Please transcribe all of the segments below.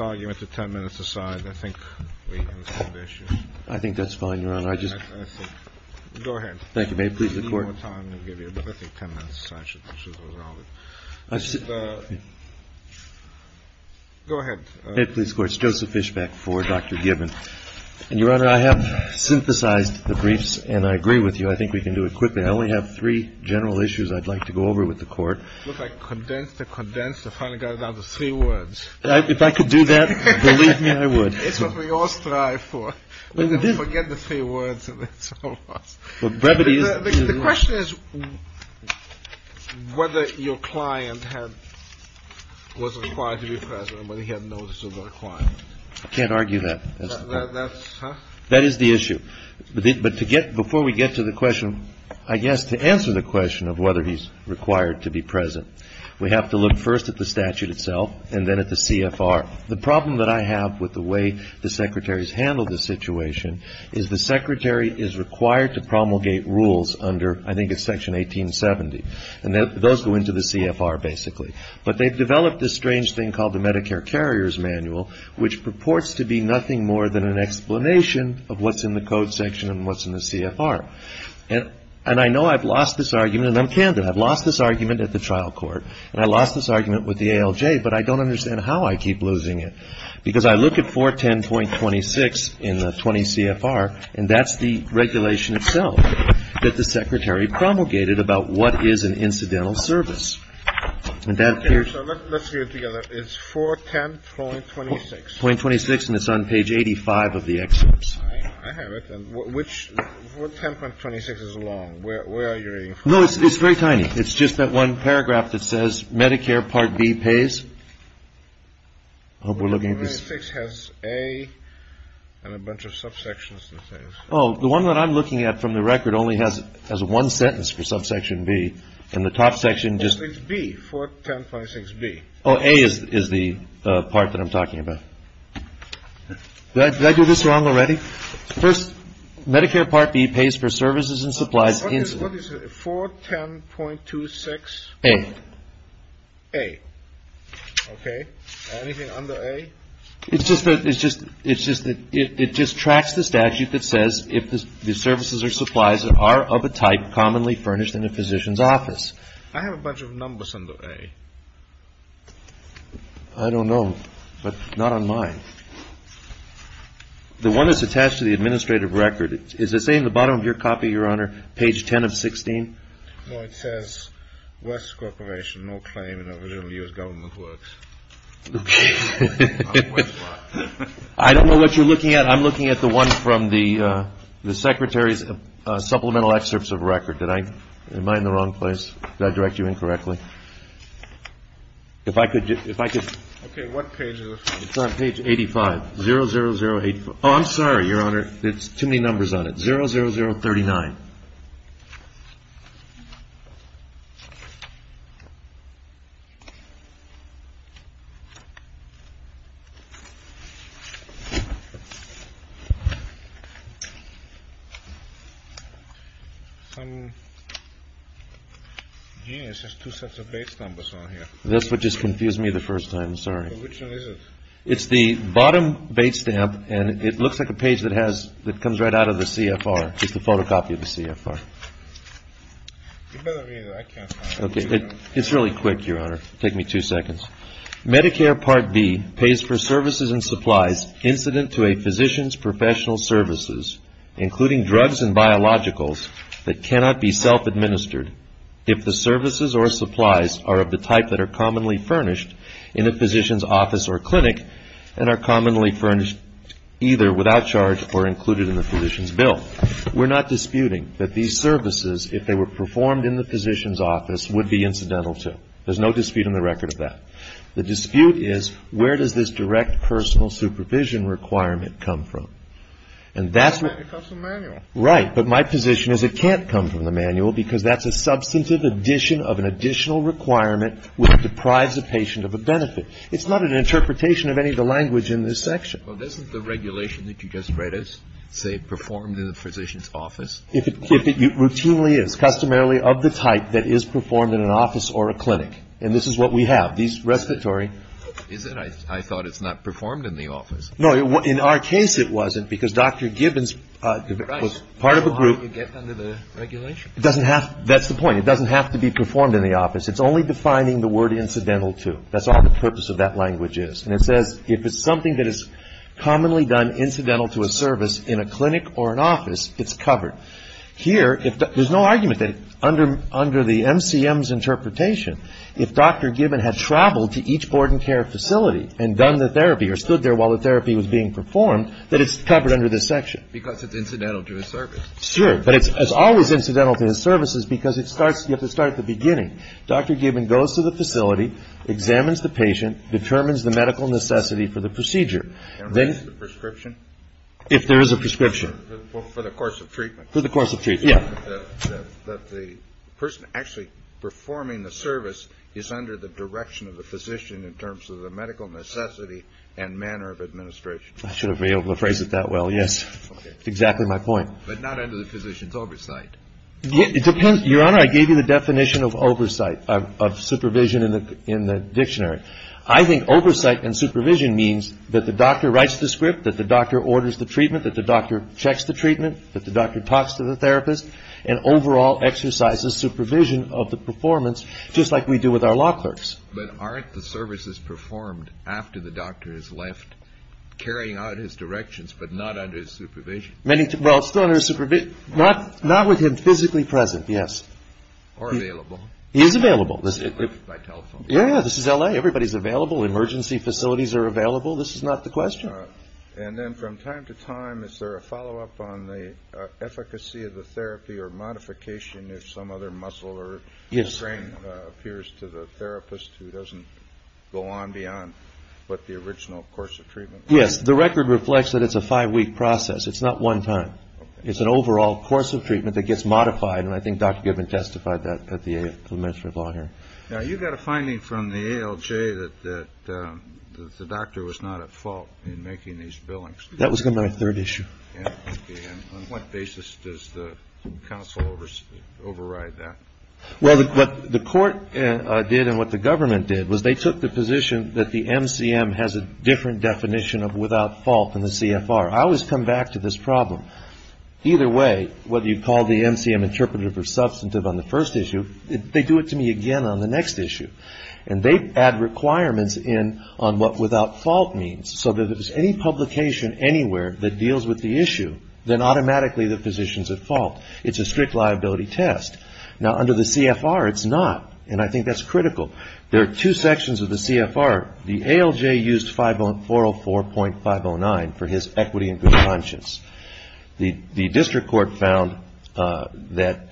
I have synthesized the briefs, and I agree with you. I think we can do it quickly. I only have three general issues I'd like to go over with the Court. It's what we all strive for. Forget the three words. The question is whether your client was required to be present, whether he had notice of the requirement. I can't argue that. That is the issue. But before we get to the question, I guess to answer the question of whether he's required to be present, we have to look first at the statute itself and then at the CFR. The problem that I have with the way the Secretary's handled the situation is the Secretary is required to promulgate rules under, I think it's Section 1870, and those go into the CFR basically. But they've developed this strange thing called the Medicare Carrier's Manual, which purports to be nothing more than an explanation of what's in the code section and what's in the CFR. And I know I've lost this argument, and I'm candid. I've lost this argument at the trial court, and I lost this argument with the ALJ, but I don't understand how I keep losing it. Because I look at 410.26 in the 20 CFR, and that's the regulation itself that the Secretary promulgated about what is an incidental service. And that appears to be 410.26. 410.26, and it's on page 85 of the excerpts. I have it. And which 410.26 is long? Where are you reading from? No, it's very tiny. It's just that one paragraph that says Medicare Part B pays. I hope we're looking at this. 410.26 has A and a bunch of subsections. Oh, the one that I'm looking at from the record only has one sentence for subsection B, and the top section just – 410.26B. Oh, A is the part that I'm talking about. Did I do this wrong already? First, Medicare Part B pays for services and supplies in – What is it? 410.26? A. A. Okay. Anything under A? It's just that – it's just – it just tracks the statute that says if the services or supplies are of a type commonly furnished in a physician's office. I have a bunch of numbers under A. I don't know, but not on mine. The one that's attached to the administrative record, is it saying at the bottom of your copy, Your Honor, page 10 of 16? No, it says West Corporation, no claim in over a little years government works. Okay. I don't know what you're looking at. I'm looking at the one from the Secretary's supplemental excerpts of record. Did I – am I in the wrong place? Did I direct you incorrectly? If I could – if I could – Okay, what page is it? It's on page 85, 00084. Oh, I'm sorry, Your Honor. There's too many numbers on it. 00039. Some – gee, there's just two sets of base numbers on here. That's what just confused me the first time. I'm sorry. Well, which one is it? It's the bottom base stamp, and it looks like a page that has – that comes right out of the CFR. It's the photocopy of the CFR. You better read it. I can't find it. Okay. It's really quick, Your Honor. Take me two seconds. Medicare Part B pays for services and supplies incident to a physician's professional services, including drugs and biologicals, that cannot be self-administered if the services or supplies are of the type that are in the physician's office or clinic and are commonly furnished either without charge or included in the physician's bill. We're not disputing that these services, if they were performed in the physician's office, would be incidental to. There's no dispute in the record of that. The dispute is where does this direct personal supervision requirement come from? And that's what – It comes from the manual. Right. But my position is it can't come from the manual because that's a substantive addition of an additional requirement which deprives a patient of a benefit. It's not an interpretation of any of the language in this section. Well, isn't the regulation that you just read as, say, performed in the physician's office? If it routinely is, customarily of the type that is performed in an office or a clinic, and this is what we have, these respiratory – Is it? I thought it's not performed in the office. No. In our case, it wasn't because Dr. Gibbons was part of a group – Right. So how do you get under the regulation? It doesn't have – that's the point. It doesn't have to be performed in the office. It's only defining the word incidental to. That's all the purpose of that language is. And it says if it's something that is commonly done incidental to a service in a clinic or an office, it's covered. Here, if – there's no argument that under the MCM's interpretation, if Dr. Gibbons had traveled to each board and care facility and done the therapy or stood there while the therapy was being performed, that it's covered under this section. Because it's incidental to a service. Sure. But it's always incidental to the services because it starts – you have to start at the beginning. Dr. Gibbons goes to the facility, examines the patient, determines the medical necessity for the procedure. And writes the prescription? If there is a prescription. For the course of treatment. For the course of treatment. Yeah. That the person actually performing the service is under the direction of the physician in terms of the medical necessity and manner of administration. I should have been able to phrase it that well. Yes. Okay. Exactly my point. But not under the physician's oversight. Your Honor, I gave you the definition of oversight, of supervision in the dictionary. I think oversight and supervision means that the doctor writes the script, that the doctor orders the treatment, that the doctor checks the treatment, that the doctor talks to the therapist, and overall exercises supervision of the performance just like we do with our law clerks. But aren't the services performed after the doctor has left carrying out his directions but not under his supervision? Well, not with him physically present, yes. Or available. He is available. By telephone. Yeah. This is L.A. Everybody is available. Emergency facilities are available. This is not the question. And then from time to time, is there a follow-up on the efficacy of the therapy or modification if some other muscle or brain appears to the therapist who doesn't go on beyond what the original course of treatment was? Yes. The record reflects that it's a five-week process. It's not one time. Okay. It's an overall course of treatment that gets modified, and I think Dr. Gibbon testified that at the A.F. for the Ministry of Law here. Now, you got a finding from the ALJ that the doctor was not at fault in making these billings. That was in my third issue. Okay. And on what basis does the counsel override that? Well, what the court did and what the government did was they took the position that the MCM has a different definition of without fault than the CFR. I always come back to this problem. Either way, whether you call the MCM interpretive or substantive on the first issue, they do it to me again on the next issue. And they add requirements in on what without fault means. So if there's any publication anywhere that deals with the issue, then automatically the physician is at fault. It's a strict liability test. Now, under the CFR, it's not, and I think that's critical. There are two sections of the CFR. The ALJ used 404.509 for his equity and good conscience. The district court found that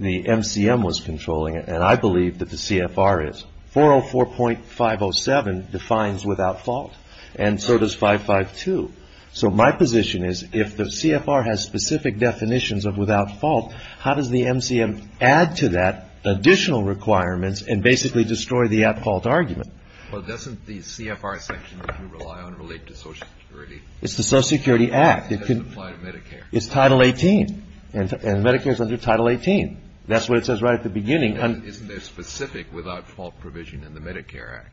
the MCM was controlling it, and I believe that the CFR is. 404.507 defines without fault, and so does 552. So my position is if the CFR has specific definitions of without fault, how does the MCM add to that additional requirements and basically destroy the at-fault argument? Well, doesn't the CFR section that you rely on relate to Social Security? It's the Social Security Act. It doesn't apply to Medicare. It's Title 18, and Medicare is under Title 18. That's what it says right at the beginning. Isn't there specific without fault provision in the Medicare Act?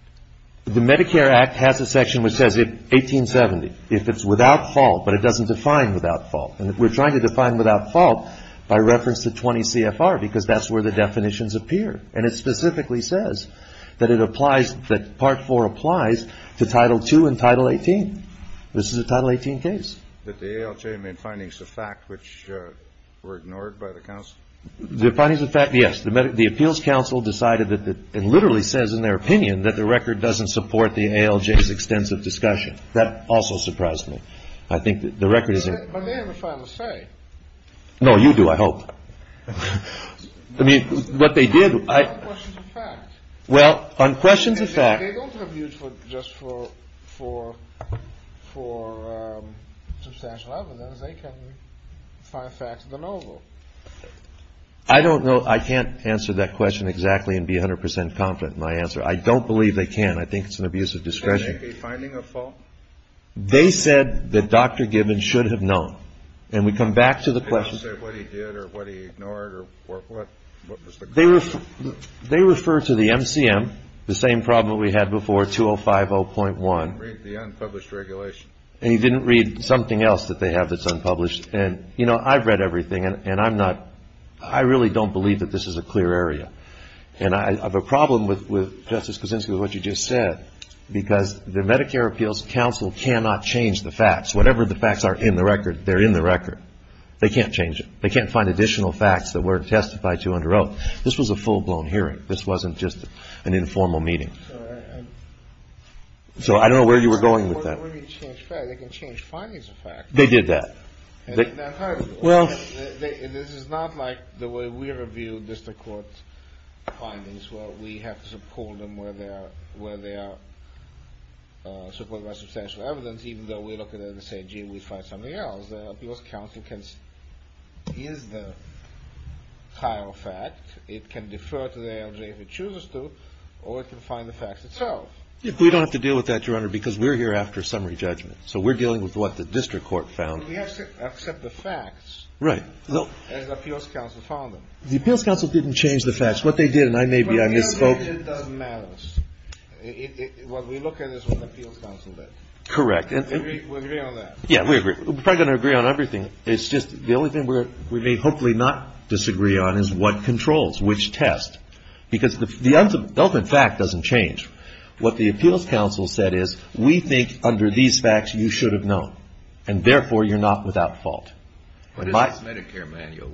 The Medicare Act has a section which says 1870, if it's without fault, but it doesn't define without fault. And we're trying to define without fault by reference to 20 CFR, because that's where the definitions appear. And it specifically says that it applies, that Part 4 applies to Title 2 and Title 18. This is a Title 18 case. But the ALJ made findings of fact, which were ignored by the counsel? The findings of fact, yes. The appeals counsel decided that it literally says in their opinion that the record doesn't support the ALJ's extensive discussion. That also surprised me. I think that the record is. But they have a final say. No, you do, I hope. I mean, what they did. On questions of fact. Well, on questions of fact. They don't have use just for substantial evidence. They can find facts of the novel. I don't know. I can't answer that question exactly and be 100 percent confident in my answer. I don't believe they can. I think it's an abuse of discretion. Can they make a finding of fault? They said that Dr. Gibbons should have known. And we come back to the question. Did he say what he did or what he ignored or what was the question? They refer to the MCM, the same problem we had before, 2050.1. He didn't read the unpublished regulation. And he didn't read something else that they have that's unpublished. And, you know, I've read everything. And I'm not, I really don't believe that this is a clear area. And I have a problem with Justice Kuczynski with what you just said. Because the Medicare Appeals Counsel cannot change the facts. Whatever the facts are in the record, they're in the record. They can't change it. They can't find additional facts that weren't testified to under oath. This was a full-blown hearing. This wasn't just an informal meeting. So I don't know where you were going with that. They can change findings of facts. They did that. Well, this is not like the way we review district court findings where we have to support them where they are, support them by substantial evidence, even though we look at it and say, gee, we find something else. The Appeals Counsel can use the entire fact. It can defer to the ALJ if it chooses to, or it can find the facts itself. We don't have to deal with that, Your Honor, because we're here after a summary judgment. So we're dealing with what the district court found. We have to accept the facts. Right. As the Appeals Counsel found them. The Appeals Counsel didn't change the facts. What they did, and I may be, I misspoke. It doesn't matter. What we look at is what the Appeals Counsel did. Correct. We agree on that. Yeah, we agree. We're probably going to agree on everything. It's just the only thing we may hopefully not disagree on is what controls, which test. Because the ultimate fact doesn't change. What the Appeals Counsel said is, we think under these facts you should have known, and therefore you're not without fault. What is this Medicare manual?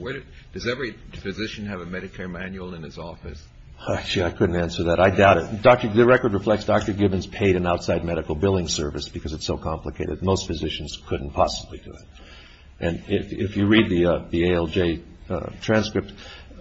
Does every physician have a Medicare manual in his office? Actually, I couldn't answer that. I doubt it. The record reflects Dr. Gibbons paid an outside medical billing service because it's so complicated. Most physicians couldn't possibly do it. And if you read the ALJ transcript,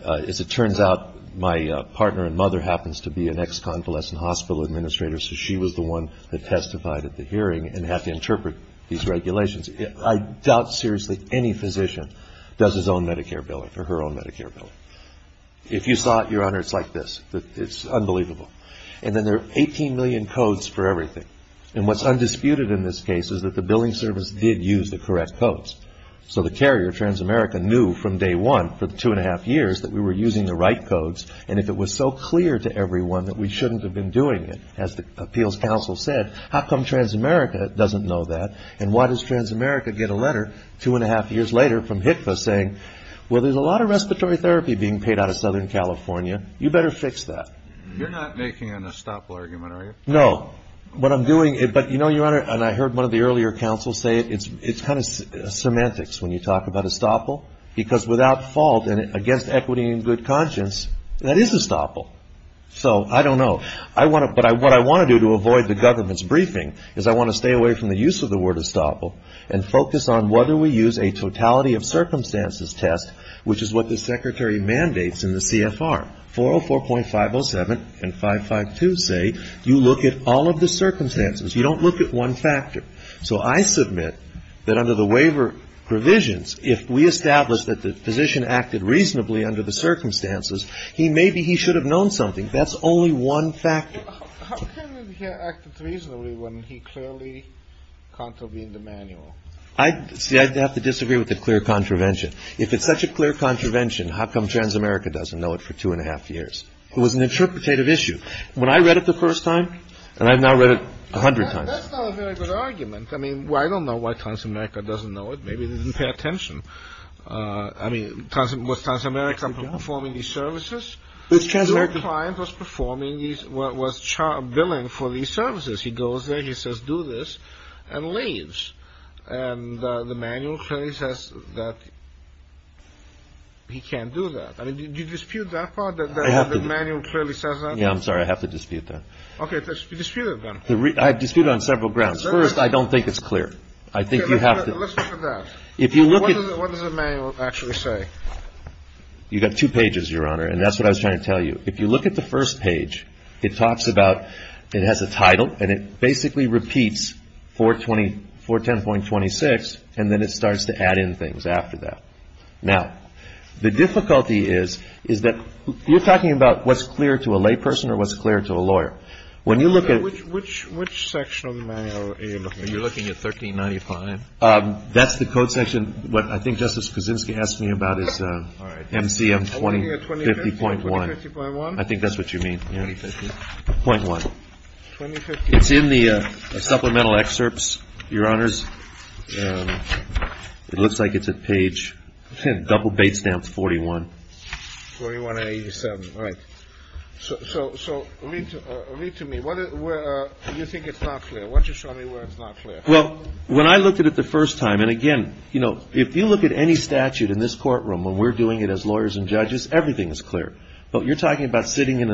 as it turns out, my partner and mother happens to be an ex-convalescent hospital administrator, so she was the one that testified at the hearing and had to interpret these regulations. I doubt seriously any physician does his own Medicare billing or her own Medicare billing. If you saw it, Your Honor, it's like this. It's unbelievable. And then there are 18 million codes for everything. And what's undisputed in this case is that the billing service did use the correct codes. So the carrier, Transamerica, knew from day one for the two-and-a-half years that we were using the right codes, and if it was so clear to everyone that we shouldn't have been doing it, as the Appeals Counsel said, how come Transamerica doesn't know that, and why does Transamerica get a letter two-and-a-half years later from HCFA saying, well, there's a lot of respiratory therapy being paid out of Southern California. You better fix that. You're not making an estoppel argument, are you? No. What I'm doing, but you know, Your Honor, and I heard one of the earlier counsels say it's kind of semantics when you talk about estoppel, because without fault and against equity and good conscience, that is estoppel. So I don't know. But what I want to do to avoid the government's briefing is I want to stay away from the use of the word estoppel and focus on whether we use a totality of circumstances test, which is what the Secretary mandates in the CFR. 404.507 and 552 say you look at all of the circumstances. You don't look at one factor. So I submit that under the waiver provisions, if we establish that the physician acted reasonably under the circumstances, he may be he should have known something. That's only one factor. How can he act reasonably when he clearly contravened the manual? See, I'd have to disagree with the clear contravention. If it's such a clear contravention, how come Transamerica doesn't know it for two and a half years? It was an interpretative issue. When I read it the first time and I've now read it a hundred times. That's not a very good argument. I mean, I don't know why Transamerica doesn't know it. Maybe they didn't pay attention. I mean, was Transamerica performing these services? Your client was performing these, was billing for these services. He goes there, he says, do this, and leaves. And the manual clearly says that he can't do that. I mean, do you dispute that part, that the manual clearly says that? Yeah, I'm sorry. I have to dispute that. Okay. Dispute it, then. I dispute it on several grounds. First, I don't think it's clear. I think you have to. Let's look at that. If you look at it. What does the manual actually say? You've got two pages, Your Honor, and that's what I was trying to tell you. If you look at the first page, it talks about, it has a title, and it basically repeats 410.26, and then it starts to add in things after that. Now, the difficulty is, is that you're talking about what's clear to a layperson or what's clear to a lawyer. When you look at... Which section of the manual are you looking at? Are you looking at 1395? That's the code section. What I think Justice Kuczynski asked me about is MCM 2050.1. I'm looking at 2050.1. I think that's what you mean. 2050.1. It's in the supplemental excerpts, Your Honors. It looks like it's at page... Double-bait stamps, 41. 41.87. Right. So read to me. Where do you think it's not clear? Why don't you show me where it's not clear? Well, when I looked at it the first time, and again, you know, if you look at any statute in this courtroom, when we're doing it as lawyers and judges, everything is clear. But you're talking about sitting in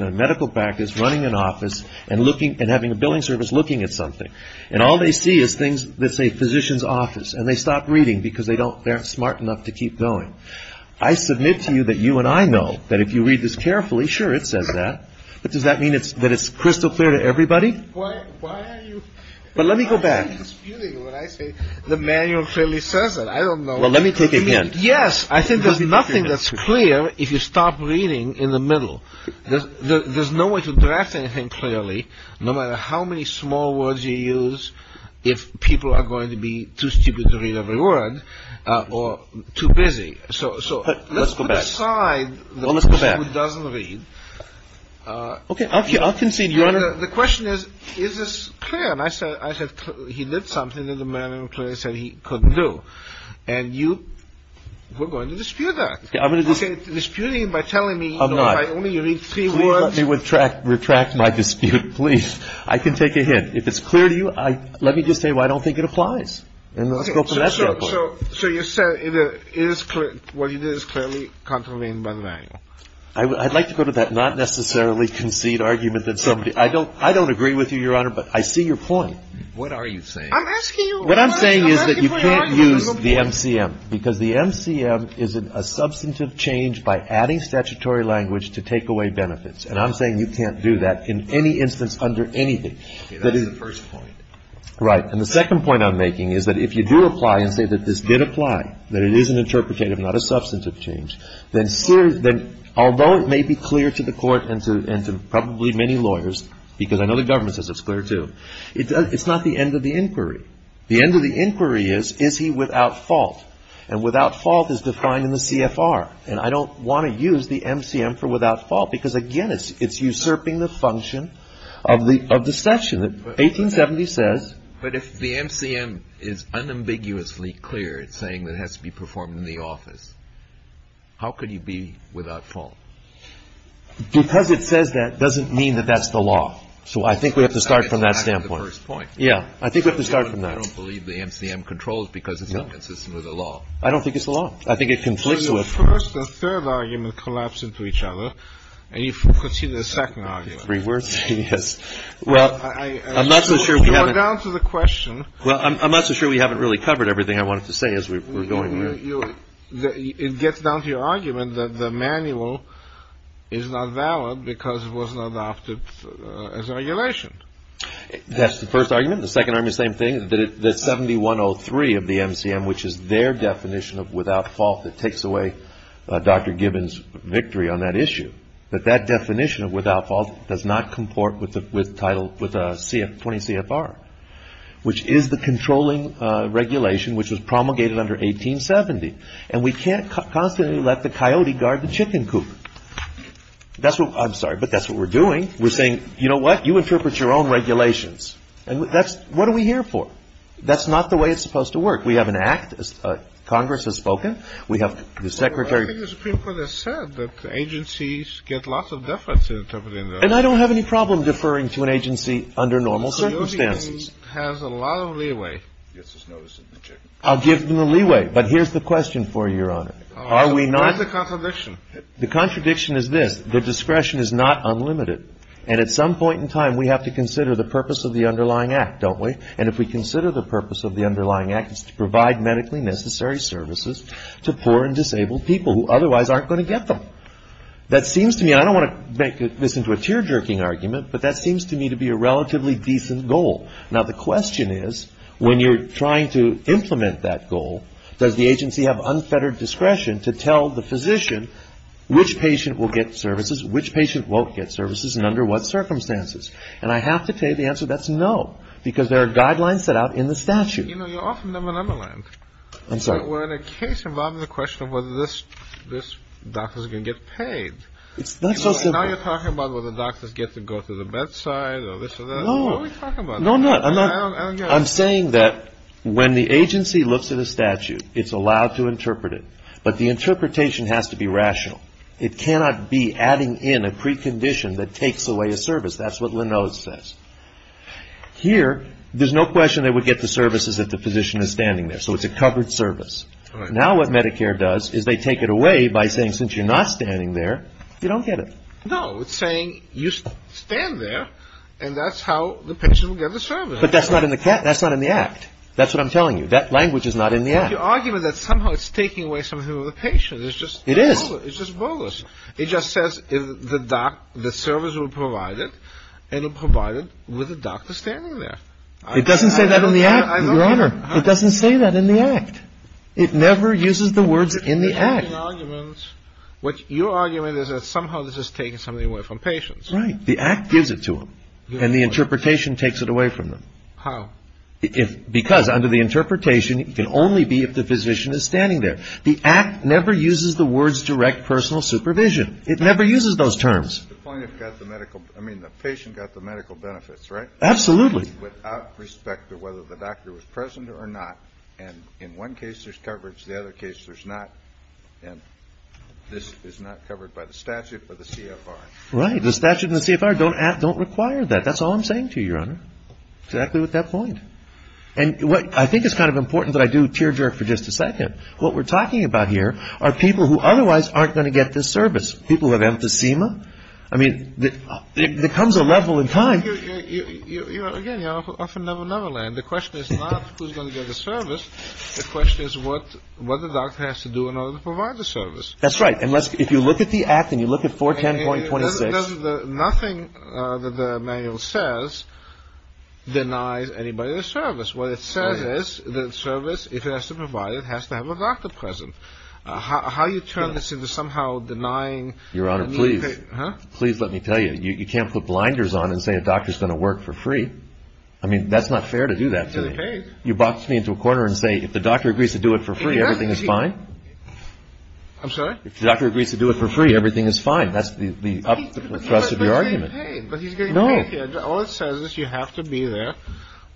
a medical practice, running an office, and having a billing service looking at something. And all they see is things that say physician's office, and they stop reading because they don't... They aren't smart enough to keep going. I submit to you that you and I know that if you read this carefully, sure, it says that. But does that mean that it's crystal clear to everybody? Why are you disputing when I say the manual clearly says that? I don't know. Well, let me take a hint. Yes, I think there's nothing that's clear if you stop reading in the middle. There's no way to draft anything clearly, no matter how many small words you use, if people are going to be too stupid to read every word or too busy. So let's put aside the person who doesn't read. Okay, I'll concede, Your Honor. The question is, is this clear? And I said he did something that the manual clearly said he couldn't do. And you were going to dispute that. Okay, I'm going to just... You're disputing by telling me... I'm not.... if I only read three words. Please let me retract my dispute, please. I can take a hint. If it's clear to you, let me just say, well, I don't think it applies. And let's go from that standpoint. So you're saying it is clear. What you did is clearly contravened by the manual. I'd like to go to that not necessarily concede argument that somebody... I don't agree with you, Your Honor, but I see your point. What are you saying? I'm asking you... What I'm saying is that you can't use the MCM, because the MCM is a substantive change by adding statutory language to take away benefits. And I'm saying you can't do that in any instance under anything. That is the first point. Right. And the second point I'm making is that if you do apply and say that this did apply, that it is an interpretative, not a substantive change, then although it may be clear to the court and to probably many lawyers, because I know the government says it's clear too, it's not the end of the inquiry. The end of the inquiry is, is he without fault? And without fault is defined in the CFR. And I don't want to use the MCM for without fault, because, again, it's usurping the function of the session. 1870 says... But if the MCM is unambiguously clear, it's saying that it has to be performed in the office, how could he be without fault? Because it says that doesn't mean that that's the law. So I think we have to start from that standpoint. That's the first point. Yeah. I think we have to start from that. I don't believe the MCM controls because it's inconsistent with the law. I don't think it's the law. I think it conflicts with... So your first and third argument collapse into each other, and you continue the second argument. Three words? Yes. Well, I'm not so sure we haven't... Go down to the question. Well, I'm not so sure we haven't really covered everything I wanted to say as we're going... It gets down to your argument that the manual is not valid because it was not adopted as a regulation. That's the first argument. The second argument is the same thing, that 7103 of the MCM, which is their definition of without fault that takes away Dr. Gibbons' victory on that issue, that that definition of without fault does not comport with Title 20 CFR, which is the controlling regulation which was promulgated under 1870. And we can't constantly let the coyote guard the chicken coop. That's what... I'm sorry, but that's what we're doing. We're saying, you know what, you interpret your own regulations. And that's... what are we here for? That's not the way it's supposed to work. We have an act. Congress has spoken. We have the Secretary... Well, I think there's people that said that agencies get lots of deference in interpreting the... And I don't have any problem deferring to an agency under normal circumstances. I'll give them the leeway. But here's the question for you, Your Honor. Are we not... What is the contradiction? The contradiction is this. The discretion is not unlimited. And at some point in time, we have to consider the purpose of the underlying act, don't we? And if we consider the purpose of the underlying act, it's to provide medically necessary services to poor and disabled people who otherwise aren't going to get them. That seems to me... I don't want to make this into a tear-jerking argument, but that seems to me to be a relatively decent goal. Now, the question is, when you're trying to implement that goal, does the agency have unfettered discretion to tell the physician which patient will get services, which patient won't get services, and under what circumstances? And I have to tell you the answer. That's no. Because there are guidelines set out in the statute. You know, you're offing them an underline. I'm sorry. We're in a case involving the question of whether this doctor is going to get paid. It's not so simple. Now you're talking about whether doctors get to go to the bedside or this or that. No. What are we talking about? No, I'm not. I don't get it. I'm saying that when the agency looks at a statute, it's allowed to interpret it, but the interpretation has to be rational. It cannot be adding in a precondition that takes away a service. That's what Linode says. Here, there's no question they would get the services if the physician is standing there. So it's a covered service. All right. Now what Medicare does is they take it away by saying, since you're not standing there, you don't get it. No. It's saying you stand there and that's how the patient will get the service. But that's not in the act. That's what I'm telling you. That language is not in the act. But your argument is that somehow it's taking away something from the patient. It is. It's just bullish. It just says the service will be provided and it will be provided with the doctor standing there. It doesn't say that in the act, Your Honor. It doesn't say that in the act. It never uses the words in the act. What your argument is that somehow this is taking something away from patients. Right. The act gives it to them and the interpretation takes it away from them. How? Because under the interpretation, it can only be if the physician is standing there. The act never uses the words direct personal supervision. It never uses those terms. The patient got the medical benefits, right? Absolutely. Without respect to whether the doctor was present or not. And in one case, there's coverage. The other case, there's not. And this is not covered by the statute or the CFR. Right. The statute and the CFR don't require that. That's all I'm saying to you, Your Honor. Exactly with that point. And what I think is kind of important that I do tear-jerk for just a second. What we're talking about here are people who otherwise aren't going to get this service. People who have emphysema. I mean, there comes a level in time. Again, you're off in another land. The question is not who's going to get the service. The question is what the doctor has to do in order to provide the service. That's right. If you look at the act and you look at 410.26. Nothing that the manual says denies anybody the service. What it says is the service, if it has to provide it, has to have a doctor present. How do you turn this into somehow denying? Your Honor, please. Please let me tell you. You can't put blinders on and say a doctor is going to work for free. I mean, that's not fair to do that to me. You box me into a corner and say if the doctor agrees to do it for free, everything is fine. I'm sorry? If the doctor agrees to do it for free, everything is fine. That's the thrust of your argument. But he's getting paid. No. All it says is you have to be there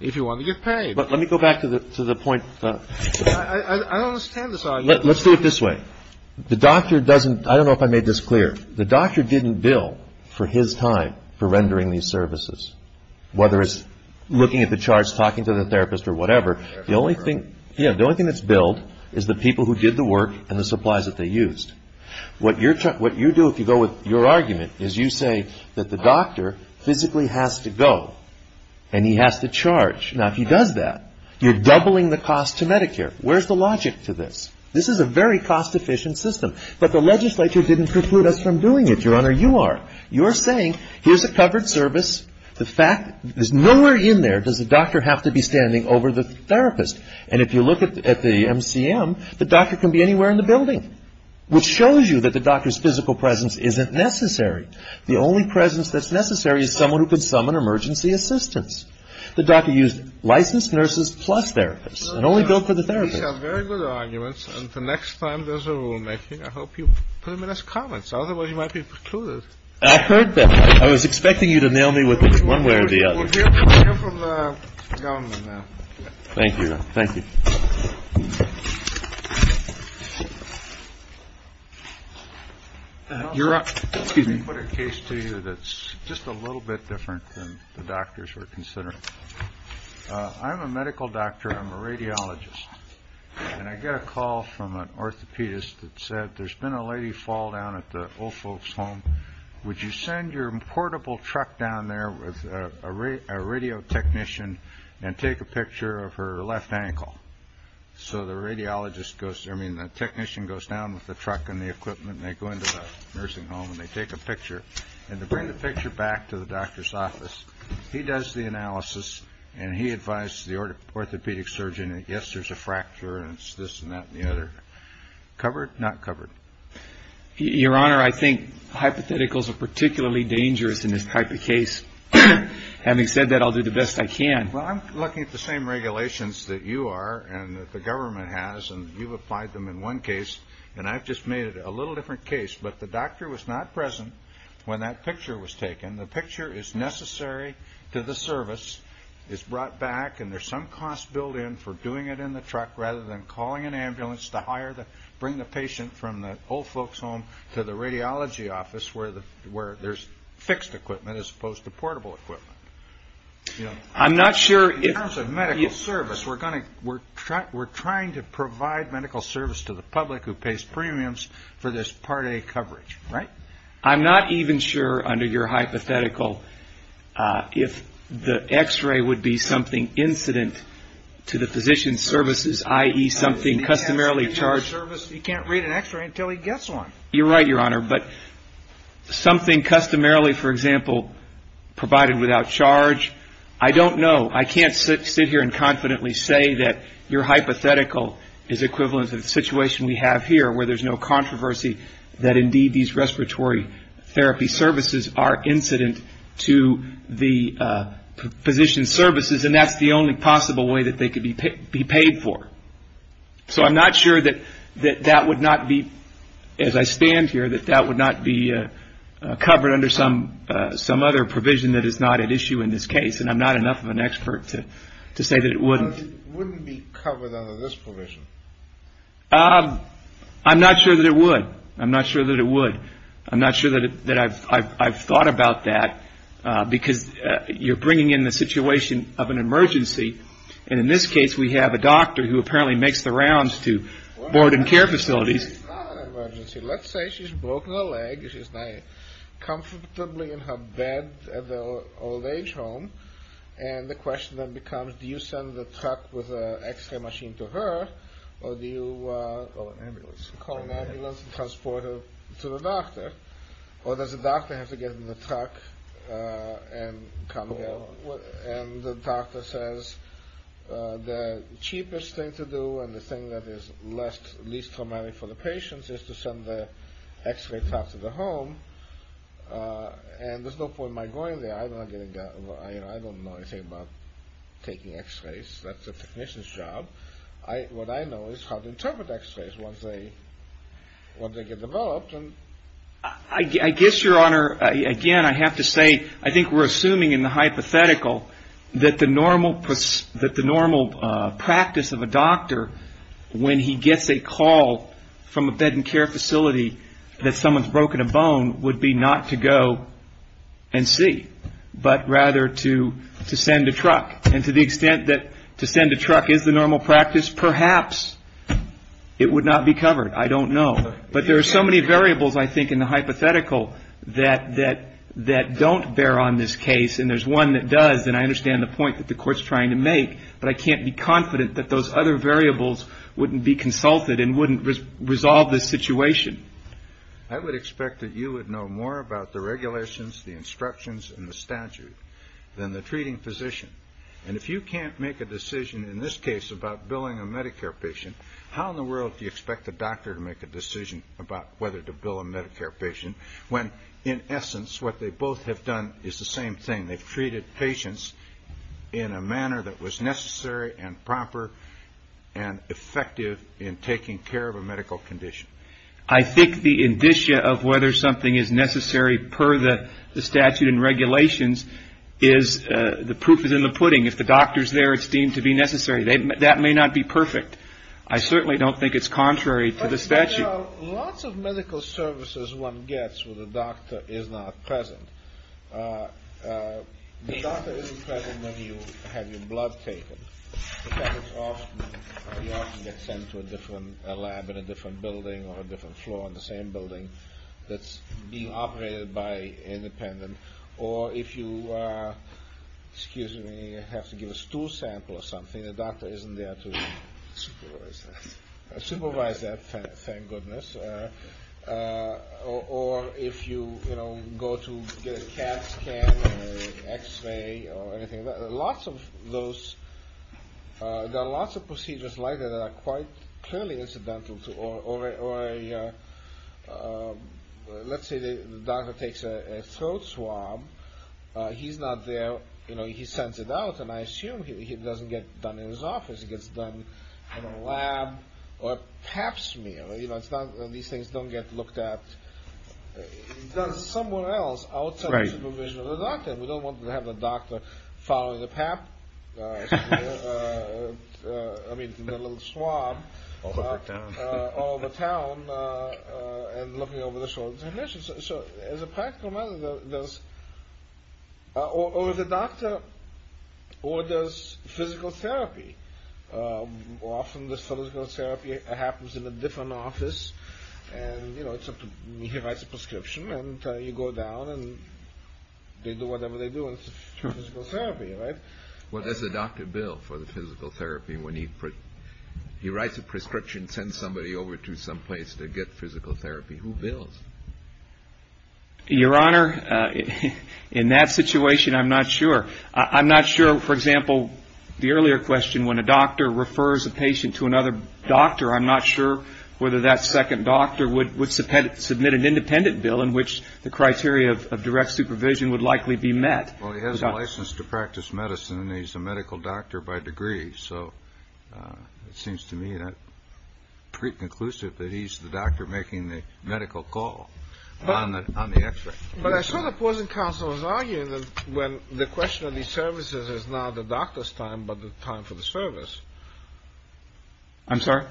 if you want to get paid. But let me go back to the point. I don't understand this argument. Let's do it this way. The doctor doesn't. I don't know if I made this clear. The doctor didn't bill for his time for rendering these services. Whether it's looking at the charts, talking to the therapist or whatever. The only thing that's billed is the people who did the work and the supplies that they used. What you do if you go with your argument is you say that the doctor physically has to go and he has to charge. Now, if he does that, you're doubling the cost to Medicare. Where's the logic to this? This is a very cost-efficient system. But the legislature didn't preclude us from doing it. Your Honor, you are. I'm just saying, here's a covered service. There's nowhere in there does the doctor have to be standing over the therapist. And if you look at the MCM, the doctor can be anywhere in the building. Which shows you that the doctor's physical presence isn't necessary. The only presence that's necessary is someone who could summon emergency assistance. The doctor used licensed nurses plus therapists and only billed for the therapist. These are very good arguments. And the next time there's a rulemaking, I hope you put them in as comments. Otherwise, you might be precluded. I've heard that I was expecting you to nail me with one way or the other. Thank you. Thank you. You're up. Excuse me. Put a case to you that's just a little bit different than the doctors were considering. I'm a medical doctor. I'm a radiologist. And I got a call from an orthopedist that said there's been a lady fall down at the old folks home. Would you send your portable truck down there with a radio technician and take a picture of her left ankle. So the radiologist goes, I mean, the technician goes down with the truck and the equipment. They go into the nursing home and they take a picture. And to bring the picture back to the doctor's office. He does the analysis and he advised the orthopedic surgeon. Yes, there's a fracture and it's this and that and the other covered, not covered. Your Honor, I think hypotheticals are particularly dangerous in this type of case. Having said that, I'll do the best I can. Well, I'm looking at the same regulations that you are and the government has. And you've applied them in one case. And I've just made it a little different case. But the doctor was not present when that picture was taken. The picture is necessary to the service. It's brought back and there's some cost built in for doing it in the truck rather than calling an ambulance to hire, bring the patient from the old folks home to the radiology office where there's fixed equipment as opposed to portable equipment. I'm not sure. In terms of medical service, we're trying to provide medical service to the public who pays premiums for this Part A coverage. Right? I'm not even sure under your hypothetical if the X-ray would be something incident to the physician's services, i.e. something customarily charged. You can't read an X-ray until he gets one. You're right, Your Honor. But something customarily, for example, provided without charge, I don't know. I can't sit here and confidently say that your hypothetical is equivalent to the situation we have here where there's no controversy that indeed these respiratory therapy services are incident to the physician's services, and that's the only possible way that they could be paid for. So I'm not sure that that would not be, as I stand here, that that would not be covered under some other provision that is not at issue in this case. And I'm not enough of an expert to say that it wouldn't. It wouldn't be covered under this provision. I'm not sure that it would. I'm not sure that it would. I'm not sure that I've thought about that because you're bringing in the situation of an emergency. And in this case, we have a doctor who apparently makes the rounds to board and care facilities. Let's say she's broken a leg. She's comfortably in her bed at the old age home. And the question then becomes, do you send the truck with the x-ray machine to her, or do you call an ambulance and transport her to the doctor? Or does the doctor have to get in the truck and come here, and the doctor says the cheapest thing to do and the thing that is least traumatic for the patient is to send the x-ray truck to the home. And there's no point in my going there. I don't know anything about taking x-rays. That's a technician's job. What I know is how to interpret x-rays once they get developed. I guess, Your Honor, again, I have to say I think we're assuming in the hypothetical that the normal practice of a doctor, when he gets a call from a bed and care facility that someone's broken a bone, would be not to go and see, but rather to send a truck. And to the extent that to send a truck is the normal practice, perhaps it would not be covered. I don't know. But there are so many variables, I think, in the hypothetical that don't bear on this case, and there's one that does. And I understand the point that the Court's trying to make, but I can't be confident that those other variables wouldn't be consulted and wouldn't resolve this situation. I would expect that you would know more about the regulations, the instructions, and the statute than the treating physician. And if you can't make a decision in this case about billing a Medicare patient, how in the world do you expect the doctor to make a decision about whether to bill a Medicare patient when, in essence, what they both have done is the same thing. They've treated patients in a manner that was necessary and proper and effective in taking care of a medical condition. I think the indicia of whether something is necessary per the statute and regulations is the proof is in the pudding. If the doctor's there, it's deemed to be necessary. That may not be perfect. I certainly don't think it's contrary to the statute. Well, lots of medical services one gets where the doctor is not present. The doctor isn't present when you have your blood taken. That is, you often get sent to a different lab in a different building or a different floor in the same building that's being operated by an independent. Or if you have to give a stool sample or something, the doctor isn't there to supervise that thing or if you go to get a CAT scan or an X-ray or anything like that. There are lots of procedures like that that are quite clearly incidental. Let's say the doctor takes a throat swab. He's not there. He sends it out, and I assume it doesn't get done in his office. It gets done in a lab or pap smear. These things don't get looked at. It's done somewhere else outside the supervision of the doctor. We don't want to have the doctor following the pap, I mean the little swab, all over town and looking over the shoulder. So as a practical matter, or the doctor orders physical therapy. Often this physical therapy happens in a different office. He writes a prescription, and you go down, and they do whatever they do. It's physical therapy, right? Well, does the doctor bill for the physical therapy when he writes a prescription, sends somebody over to someplace to get physical therapy? Who bills? Your Honor, in that situation, I'm not sure. I'm not sure. For example, the earlier question, when a doctor refers a patient to another doctor, I'm not sure whether that second doctor would submit an independent bill in which the criteria of direct supervision would likely be met. Well, he has a license to practice medicine, and he's a medical doctor by degree. So it seems to me pre-conclusive that he's the doctor making the medical call on the x-ray. But I saw the opposing counsel was arguing that when the question of these services is not the doctor's time, but the time for the service. I'm sorry?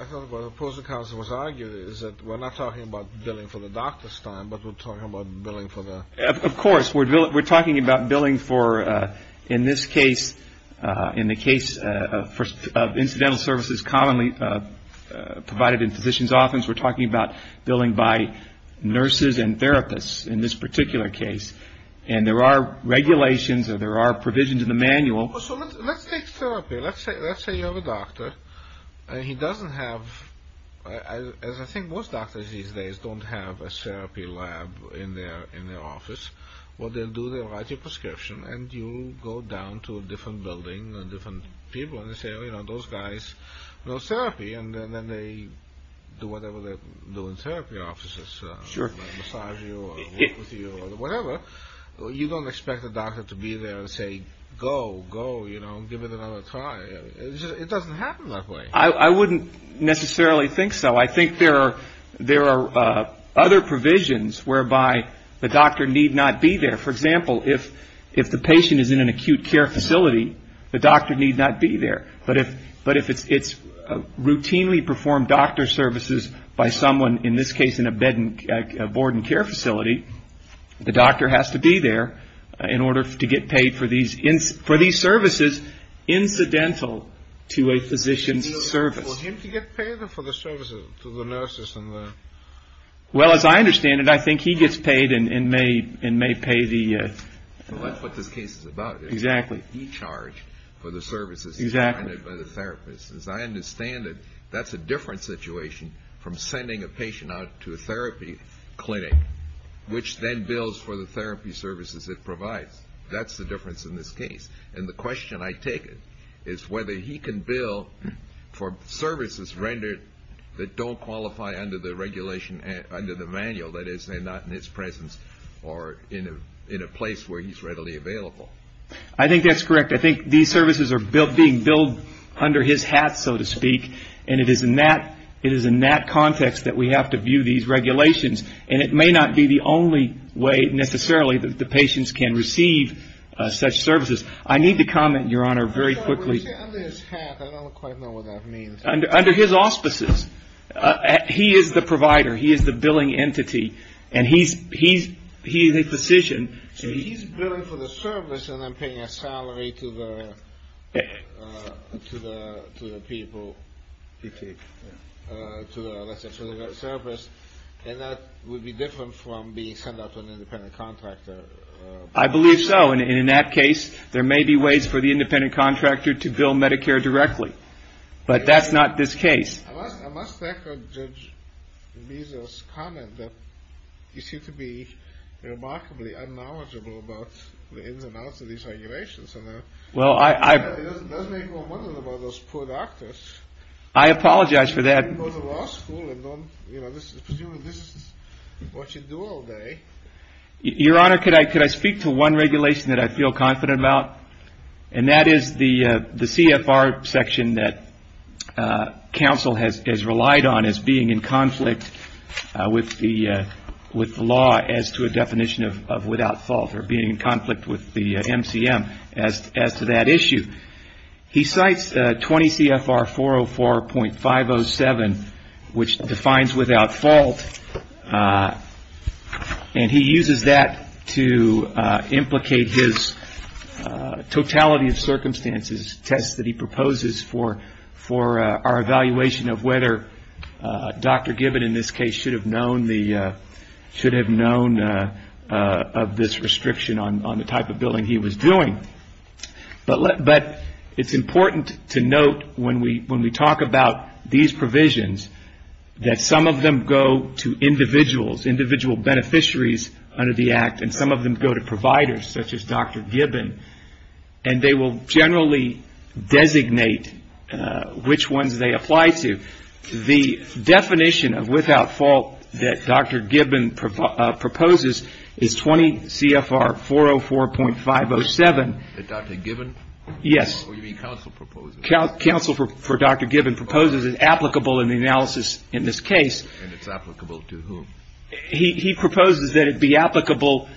I thought the opposing counsel was arguing that we're not talking about billing for the doctor's time, but we're talking about billing for the... Of course. We're talking about billing for, in this case, in the case of incidental services commonly provided in physician's office. We're talking about billing by nurses and therapists in this particular case. And there are regulations or there are provisions in the manual. So let's take therapy. Let's say you have a doctor, and he doesn't have, as I think most doctors these days don't have, a therapy lab in their office. What they'll do, they'll write you a prescription, and you go down to a different building or different people in this area, and those guys know therapy, and then they do whatever they do in therapy offices, massage you or whatever. You don't expect the doctor to be there and say, go, go, give it another try. It doesn't happen that way. I wouldn't necessarily think so. I think there are other provisions whereby the doctor need not be there. For example, if the patient is in an acute care facility, the doctor need not be there. But if it's routinely performed doctor services by someone, in this case, in a board and care facility, the doctor has to be there in order to get paid for these services incidental to a physician's service. Would he get paid for the services to the nurses? Well, as I understand it, I think he gets paid and may pay the... That's what this case is about. Exactly. He's charged for the services provided by the therapist. As I understand it, that's a different situation from sending a patient out to a therapy clinic, which then bills for the therapy services it provides. That's the difference in this case. And the question I take is whether he can bill for services rendered that don't qualify under the regulation, under the manual, that is, they're not in his presence or in a place where he's readily available. I think that's correct. I think these services are being billed under his hat, so to speak, and it is in that context that we have to view these regulations. And it may not be the only way, necessarily, that the patients can receive such services. I need to comment, Your Honor, very quickly. Sorry, when you say under his hat, I don't quite know what that means. Under his auspices. He is the provider. He is the billing entity. And he's a physician. So he's billing for the service and then paying a salary to the people, let's say, to the therapist. And that would be different from being sent out to an independent contractor. I believe so. And in that case, there may be ways for the independent contractor to bill Medicare directly. But that's not this case. I must echo Judge Beazer's comment that you seem to be remarkably unknowledgeable about the ins and outs of these regulations. It does make me wonder about those poor doctors. I apologize for that. I didn't go to law school, and presumably this is what you do all day. Your Honor, could I speak to one regulation that I feel confident about? And that is the CFR section that counsel has relied on as being in conflict with the law as to a definition of without fault, or being in conflict with the MCM as to that issue. He cites 20 CFR 404.507, which defines without fault. And he uses that to implicate his totality of circumstances test that he proposes for our evaluation of whether Dr. Gibbon, in this case, should have known of this restriction on the type of billing he was doing. But it's important to note when we talk about these provisions that some of them go to individuals, individual beneficiaries under the Act, and some of them go to providers such as Dr. Gibbon. And they will generally designate which ones they apply to. The definition of without fault that Dr. Gibbon proposes is 20 CFR 404.507. That Dr. Gibbon? Yes. Or you mean counsel proposes? Counsel for Dr. Gibbon proposes it's applicable in the analysis in this case. And it's applicable to whom? He proposes that it be applicable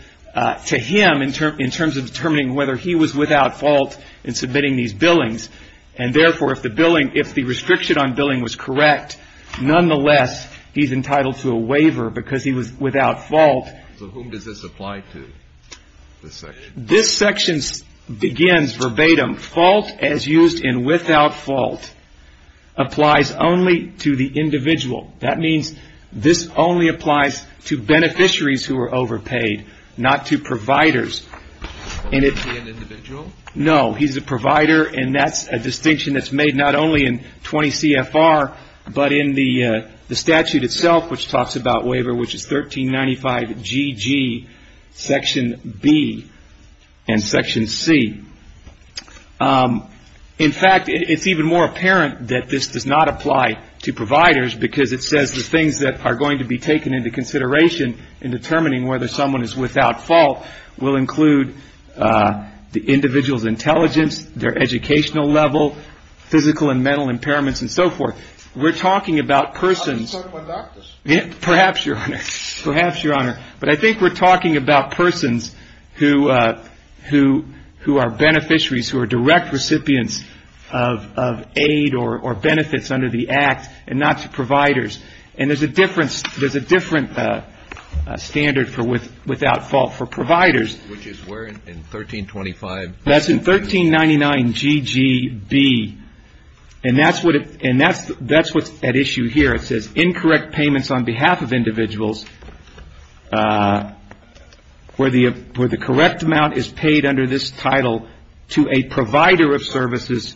to him in terms of determining whether he was without fault in submitting these billings. And, therefore, if the restriction on billing was correct, nonetheless, he's entitled to a waiver because he was without fault. So whom does this apply to, this section? This section begins verbatim, fault as used in without fault applies only to the individual. That means this only applies to beneficiaries who are overpaid, not to providers. Is he an individual? No. He's a provider, and that's a distinction that's made not only in 20 CFR, but in the statute itself, which talks about waiver, which is 1395GG section B and section C. In fact, it's even more apparent that this does not apply to providers because it says the things that are going to be taken into consideration in determining whether someone is without fault will include the individual's intelligence, their educational level, physical and mental impairments, and so forth. We're talking about persons. Perhaps, Your Honor. Perhaps, Your Honor. But I think we're talking about persons who are beneficiaries who are direct recipients of aid or benefits under the Act and not to providers. And there's a different standard for without fault for providers. Which is where, in 1325? That's in 1399GGB, and that's what's at issue here. It says incorrect payments on behalf of individuals where the correct amount is paid under this title to a provider of services.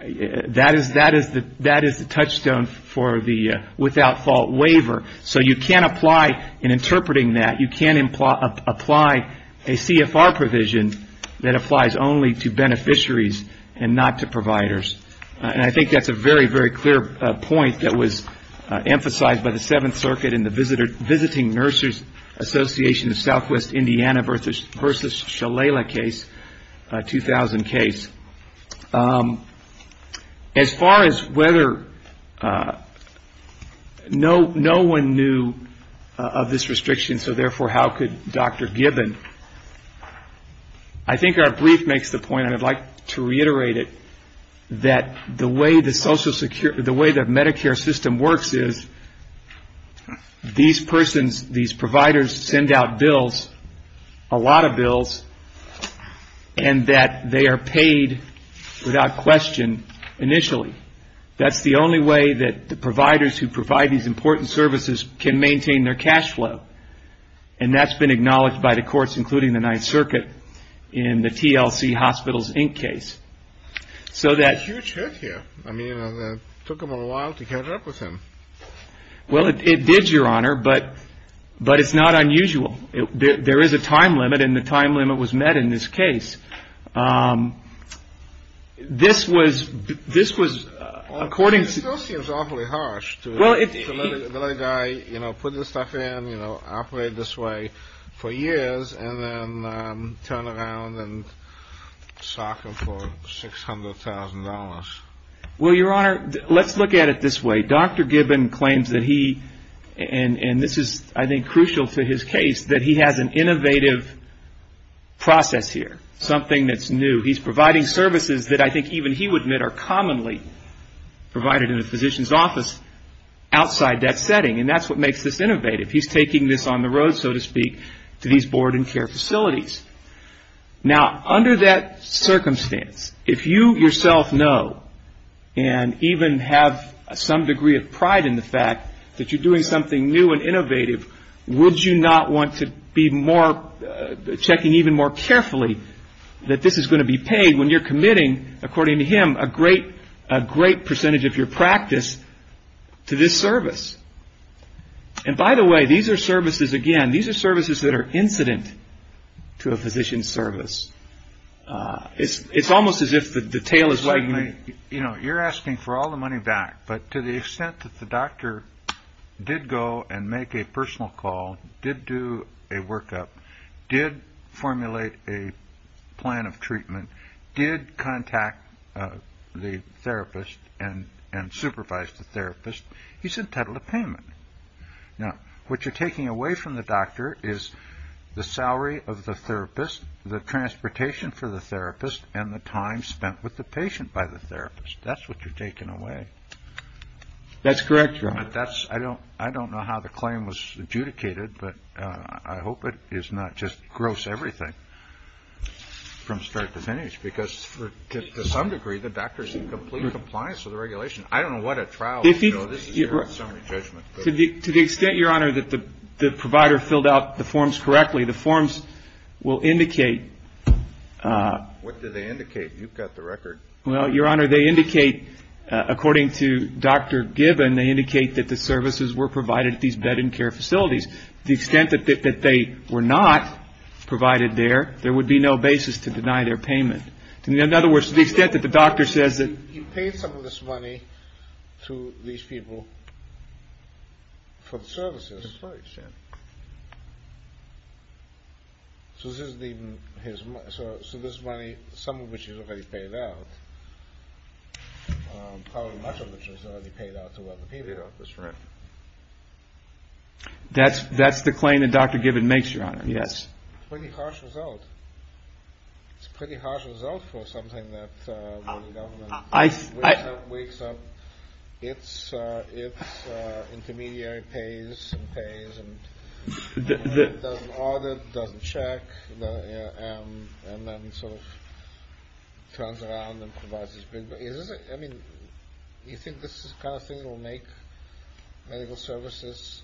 That is the touchstone for the without fault waiver. So you can't apply in interpreting that. You can't apply a CFR provision that applies only to beneficiaries and not to providers. And I think that's a very, very clear point that was emphasized by the Seventh Circuit in the Visiting Nurses Association of As far as whether no one knew of this restriction, so therefore how could Dr. Gibbon? I think our brief makes the point, and I'd like to reiterate it, that the way the Medicare system works is these persons, these providers send out bills, a lot of bills, and that they are paid without question initially. That's the only way that the providers who provide these important services can maintain their cash flow. And that's been acknowledged by the courts, including the Ninth Circuit, in the TLC Hospitals, Inc. case. That's a huge hit here. I mean, it took them a while to catch up with him. Well, it did, Your Honor, but it's not unusual. There is a time limit, and the time limit was met in this case. This was according to... It still seems awfully harsh to let a guy put this stuff in, operate this way for years, and then turn around and sock him for $600,000. Well, Your Honor, let's look at it this way. Dr. Gibbon claims that he, and this is, I think, crucial to his case, that he has an innovative process here, something that's new. He's providing services that I think even he would admit are commonly provided in a physician's office outside that setting, and that's what makes this innovative. He's taking this on the road, so to speak, to these board and care facilities. Now, under that circumstance, if you yourself know and even have some degree of pride in the fact that you're doing something new and innovative, would you not want to be checking even more carefully that this is going to be paid when you're committing, according to him, a great percentage of your practice to this service? And by the way, these are services, again, these are services that are incident to a physician's service. It's almost as if the tail is wagging. You know, you're asking for all the money back, but to the extent that the doctor did go and make a personal call, did do a workup, did formulate a plan of treatment, did contact the therapist and supervised the therapist, he's entitled to payment. Now, what you're taking away from the doctor is the salary of the therapist, the transportation for the therapist, and the time spent with the patient by the therapist. That's what you're taking away. That's correct, Ron. I don't know how the claim was adjudicated, but I hope it is not just gross everything from start to finish, because to some degree, the doctor is in complete compliance with the regulation. I don't know what a trial is. This is your summary judgment. To the extent, Your Honor, that the provider filled out the forms correctly, the forms will indicate. What do they indicate? You've got the record. Well, Your Honor, they indicate, according to Dr. Gibbon, they indicate that the services were provided at these bed and care facilities. To the extent that they were not provided there, there would be no basis to deny their payment. In other words, to the extent that the doctor says that. He paid some of this money to these people for the services. That's right. So this money, some of which is already paid out, probably much of which is already paid out to other people. That's right. That's the claim that Dr. Gibbon makes, Your Honor. Yes. It's a pretty harsh result. It's a pretty harsh result for something that the government wakes up. Its intermediary pays and pays and doesn't audit, doesn't check, and then sort of turns around and provides this big bill. I mean, you think this is the kind of thing that will make medical services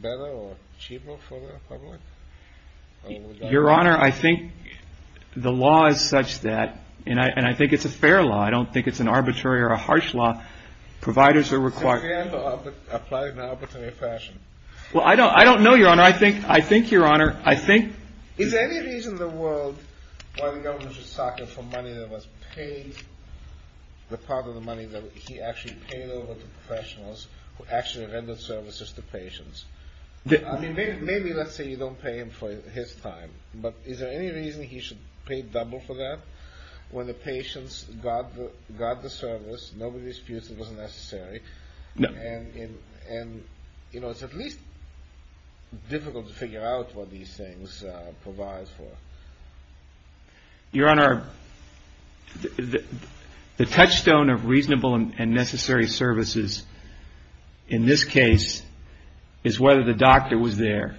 better or cheaper for the public? Your Honor, I think the law is such that, and I think it's a fair law. I don't think it's an arbitrary or a harsh law. Providers are required to apply it in an arbitrary fashion. Well, I don't know, Your Honor. I think, Your Honor, I think. Is there any reason in the world why the government should soccer for money that was paid, the part of the money that he actually paid over to professionals who actually rendered services to patients? I mean, maybe let's say you don't pay him for his time, but is there any reason he should pay double for that when the patients got the service, nobody disputes it was necessary? No. And, you know, it's at least difficult to figure out what these things provide for. Your Honor, the touchstone of reasonable and necessary services in this case is whether the doctor was there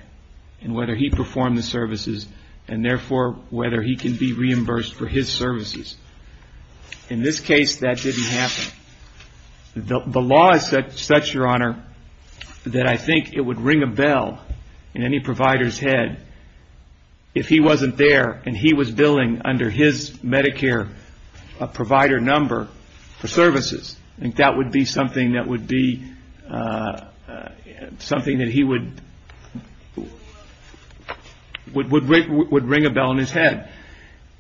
and whether he performed the services and, therefore, whether he can be reimbursed for his services. In this case, that didn't happen. The law is such, Your Honor, that I think it would ring a bell in any provider's head if he wasn't there and he was billing under his Medicare provider number for services. I think that would be something that he would ring a bell in his head.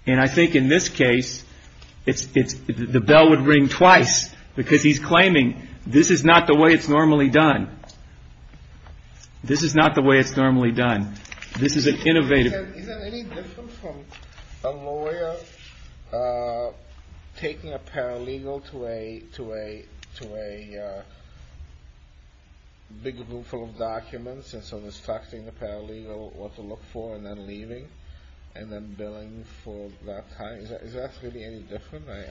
And I think in this case, the bell would ring twice because he's claiming this is not the way it's normally done. This is not the way it's normally done. This is an innovative. Is that any different from a lawyer taking a paralegal to a big room full of documents and so instructing the paralegal what to look for and then leaving and then billing for that time? Is that really any different? I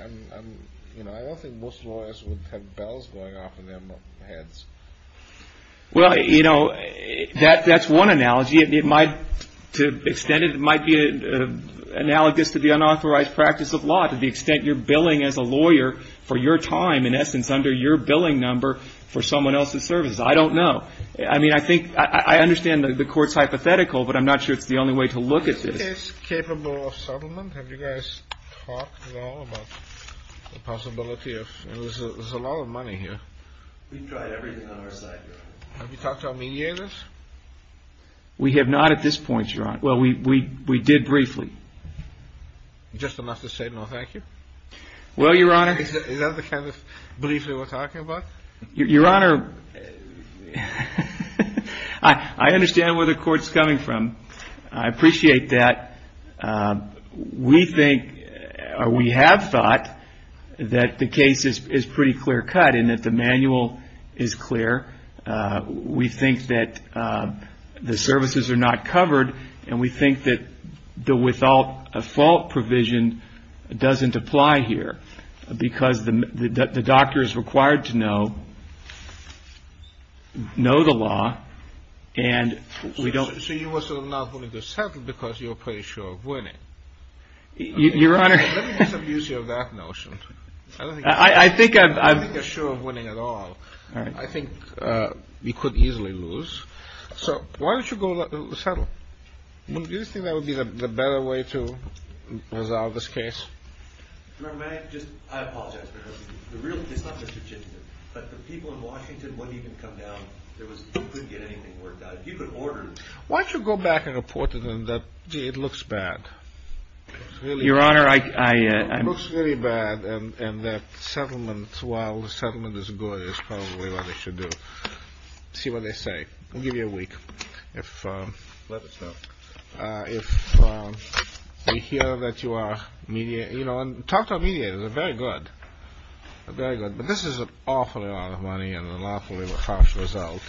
don't think most lawyers would have bells going off in their heads. Well, you know, that's one analogy. It might, to an extent, it might be analogous to the unauthorized practice of law to the extent you're billing as a lawyer for your time, in essence, under your billing number for someone else's services. I don't know. I mean, I think I understand the Court's hypothetical, but I'm not sure it's the only way to look at this. Is this case capable of settlement? Have you guys talked at all about the possibility of – there's a lot of money here. We've tried everything on our side, Your Honor. Have you talked to our mediators? We have not at this point, Your Honor. Well, we did briefly. Just enough to say no, thank you? Well, Your Honor. Is that the kind of briefly we're talking about? Your Honor, I understand where the Court's coming from. I appreciate that. We think or we have thought that the case is pretty clear cut and that the manual is clear. We think that the services are not covered, and we think that the without a fault provision doesn't apply here because the doctor is required to know the law, and we don't – So you are sort of not willing to settle because you're pretty sure of winning. Your Honor – Let me make some use of that notion. I don't think you're sure of winning at all. I think you could easily lose. So why don't you go settle? Do you think that would be the better way to resolve this case? Your Honor, may I just – I apologize. It's not the statistic, but the people in Washington wouldn't even come down. They couldn't get anything worked out. If you could order – Why don't you go back and report to them that, gee, it looks bad? Your Honor, I – It looks really bad, and that settlement, while the settlement is good, is probably what they should do. See what they say. I'll give you a week. Let us know. If we hear that you are – talk to our mediators. They're very good. They're very good, but this is an awful lot of money and an awfully harsh result,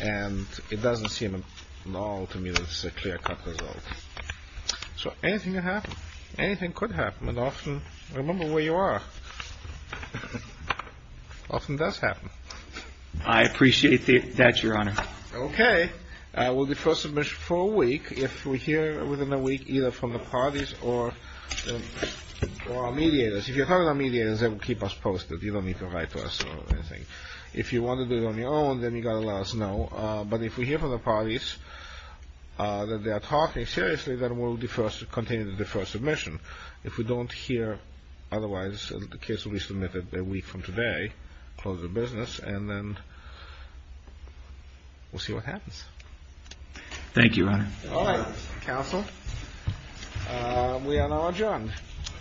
and it doesn't seem at all to me that this is a clear-cut result. So anything can happen. Anything could happen, and often – remember where you are. Often does happen. I appreciate that, Your Honor. Okay. We'll defer submission for a week if we hear within a week either from the parties or our mediators. If you're talking to our mediators, they will keep us posted. You don't need to write to us or anything. If you want to do it on your own, then you've got to let us know. But if we hear from the parties that they are talking seriously, then we'll continue to defer submission. If we don't hear otherwise, in the case we submitted a week from today, close the business, and then we'll see what happens. Thank you, Your Honor. All right, counsel. We are now adjourned.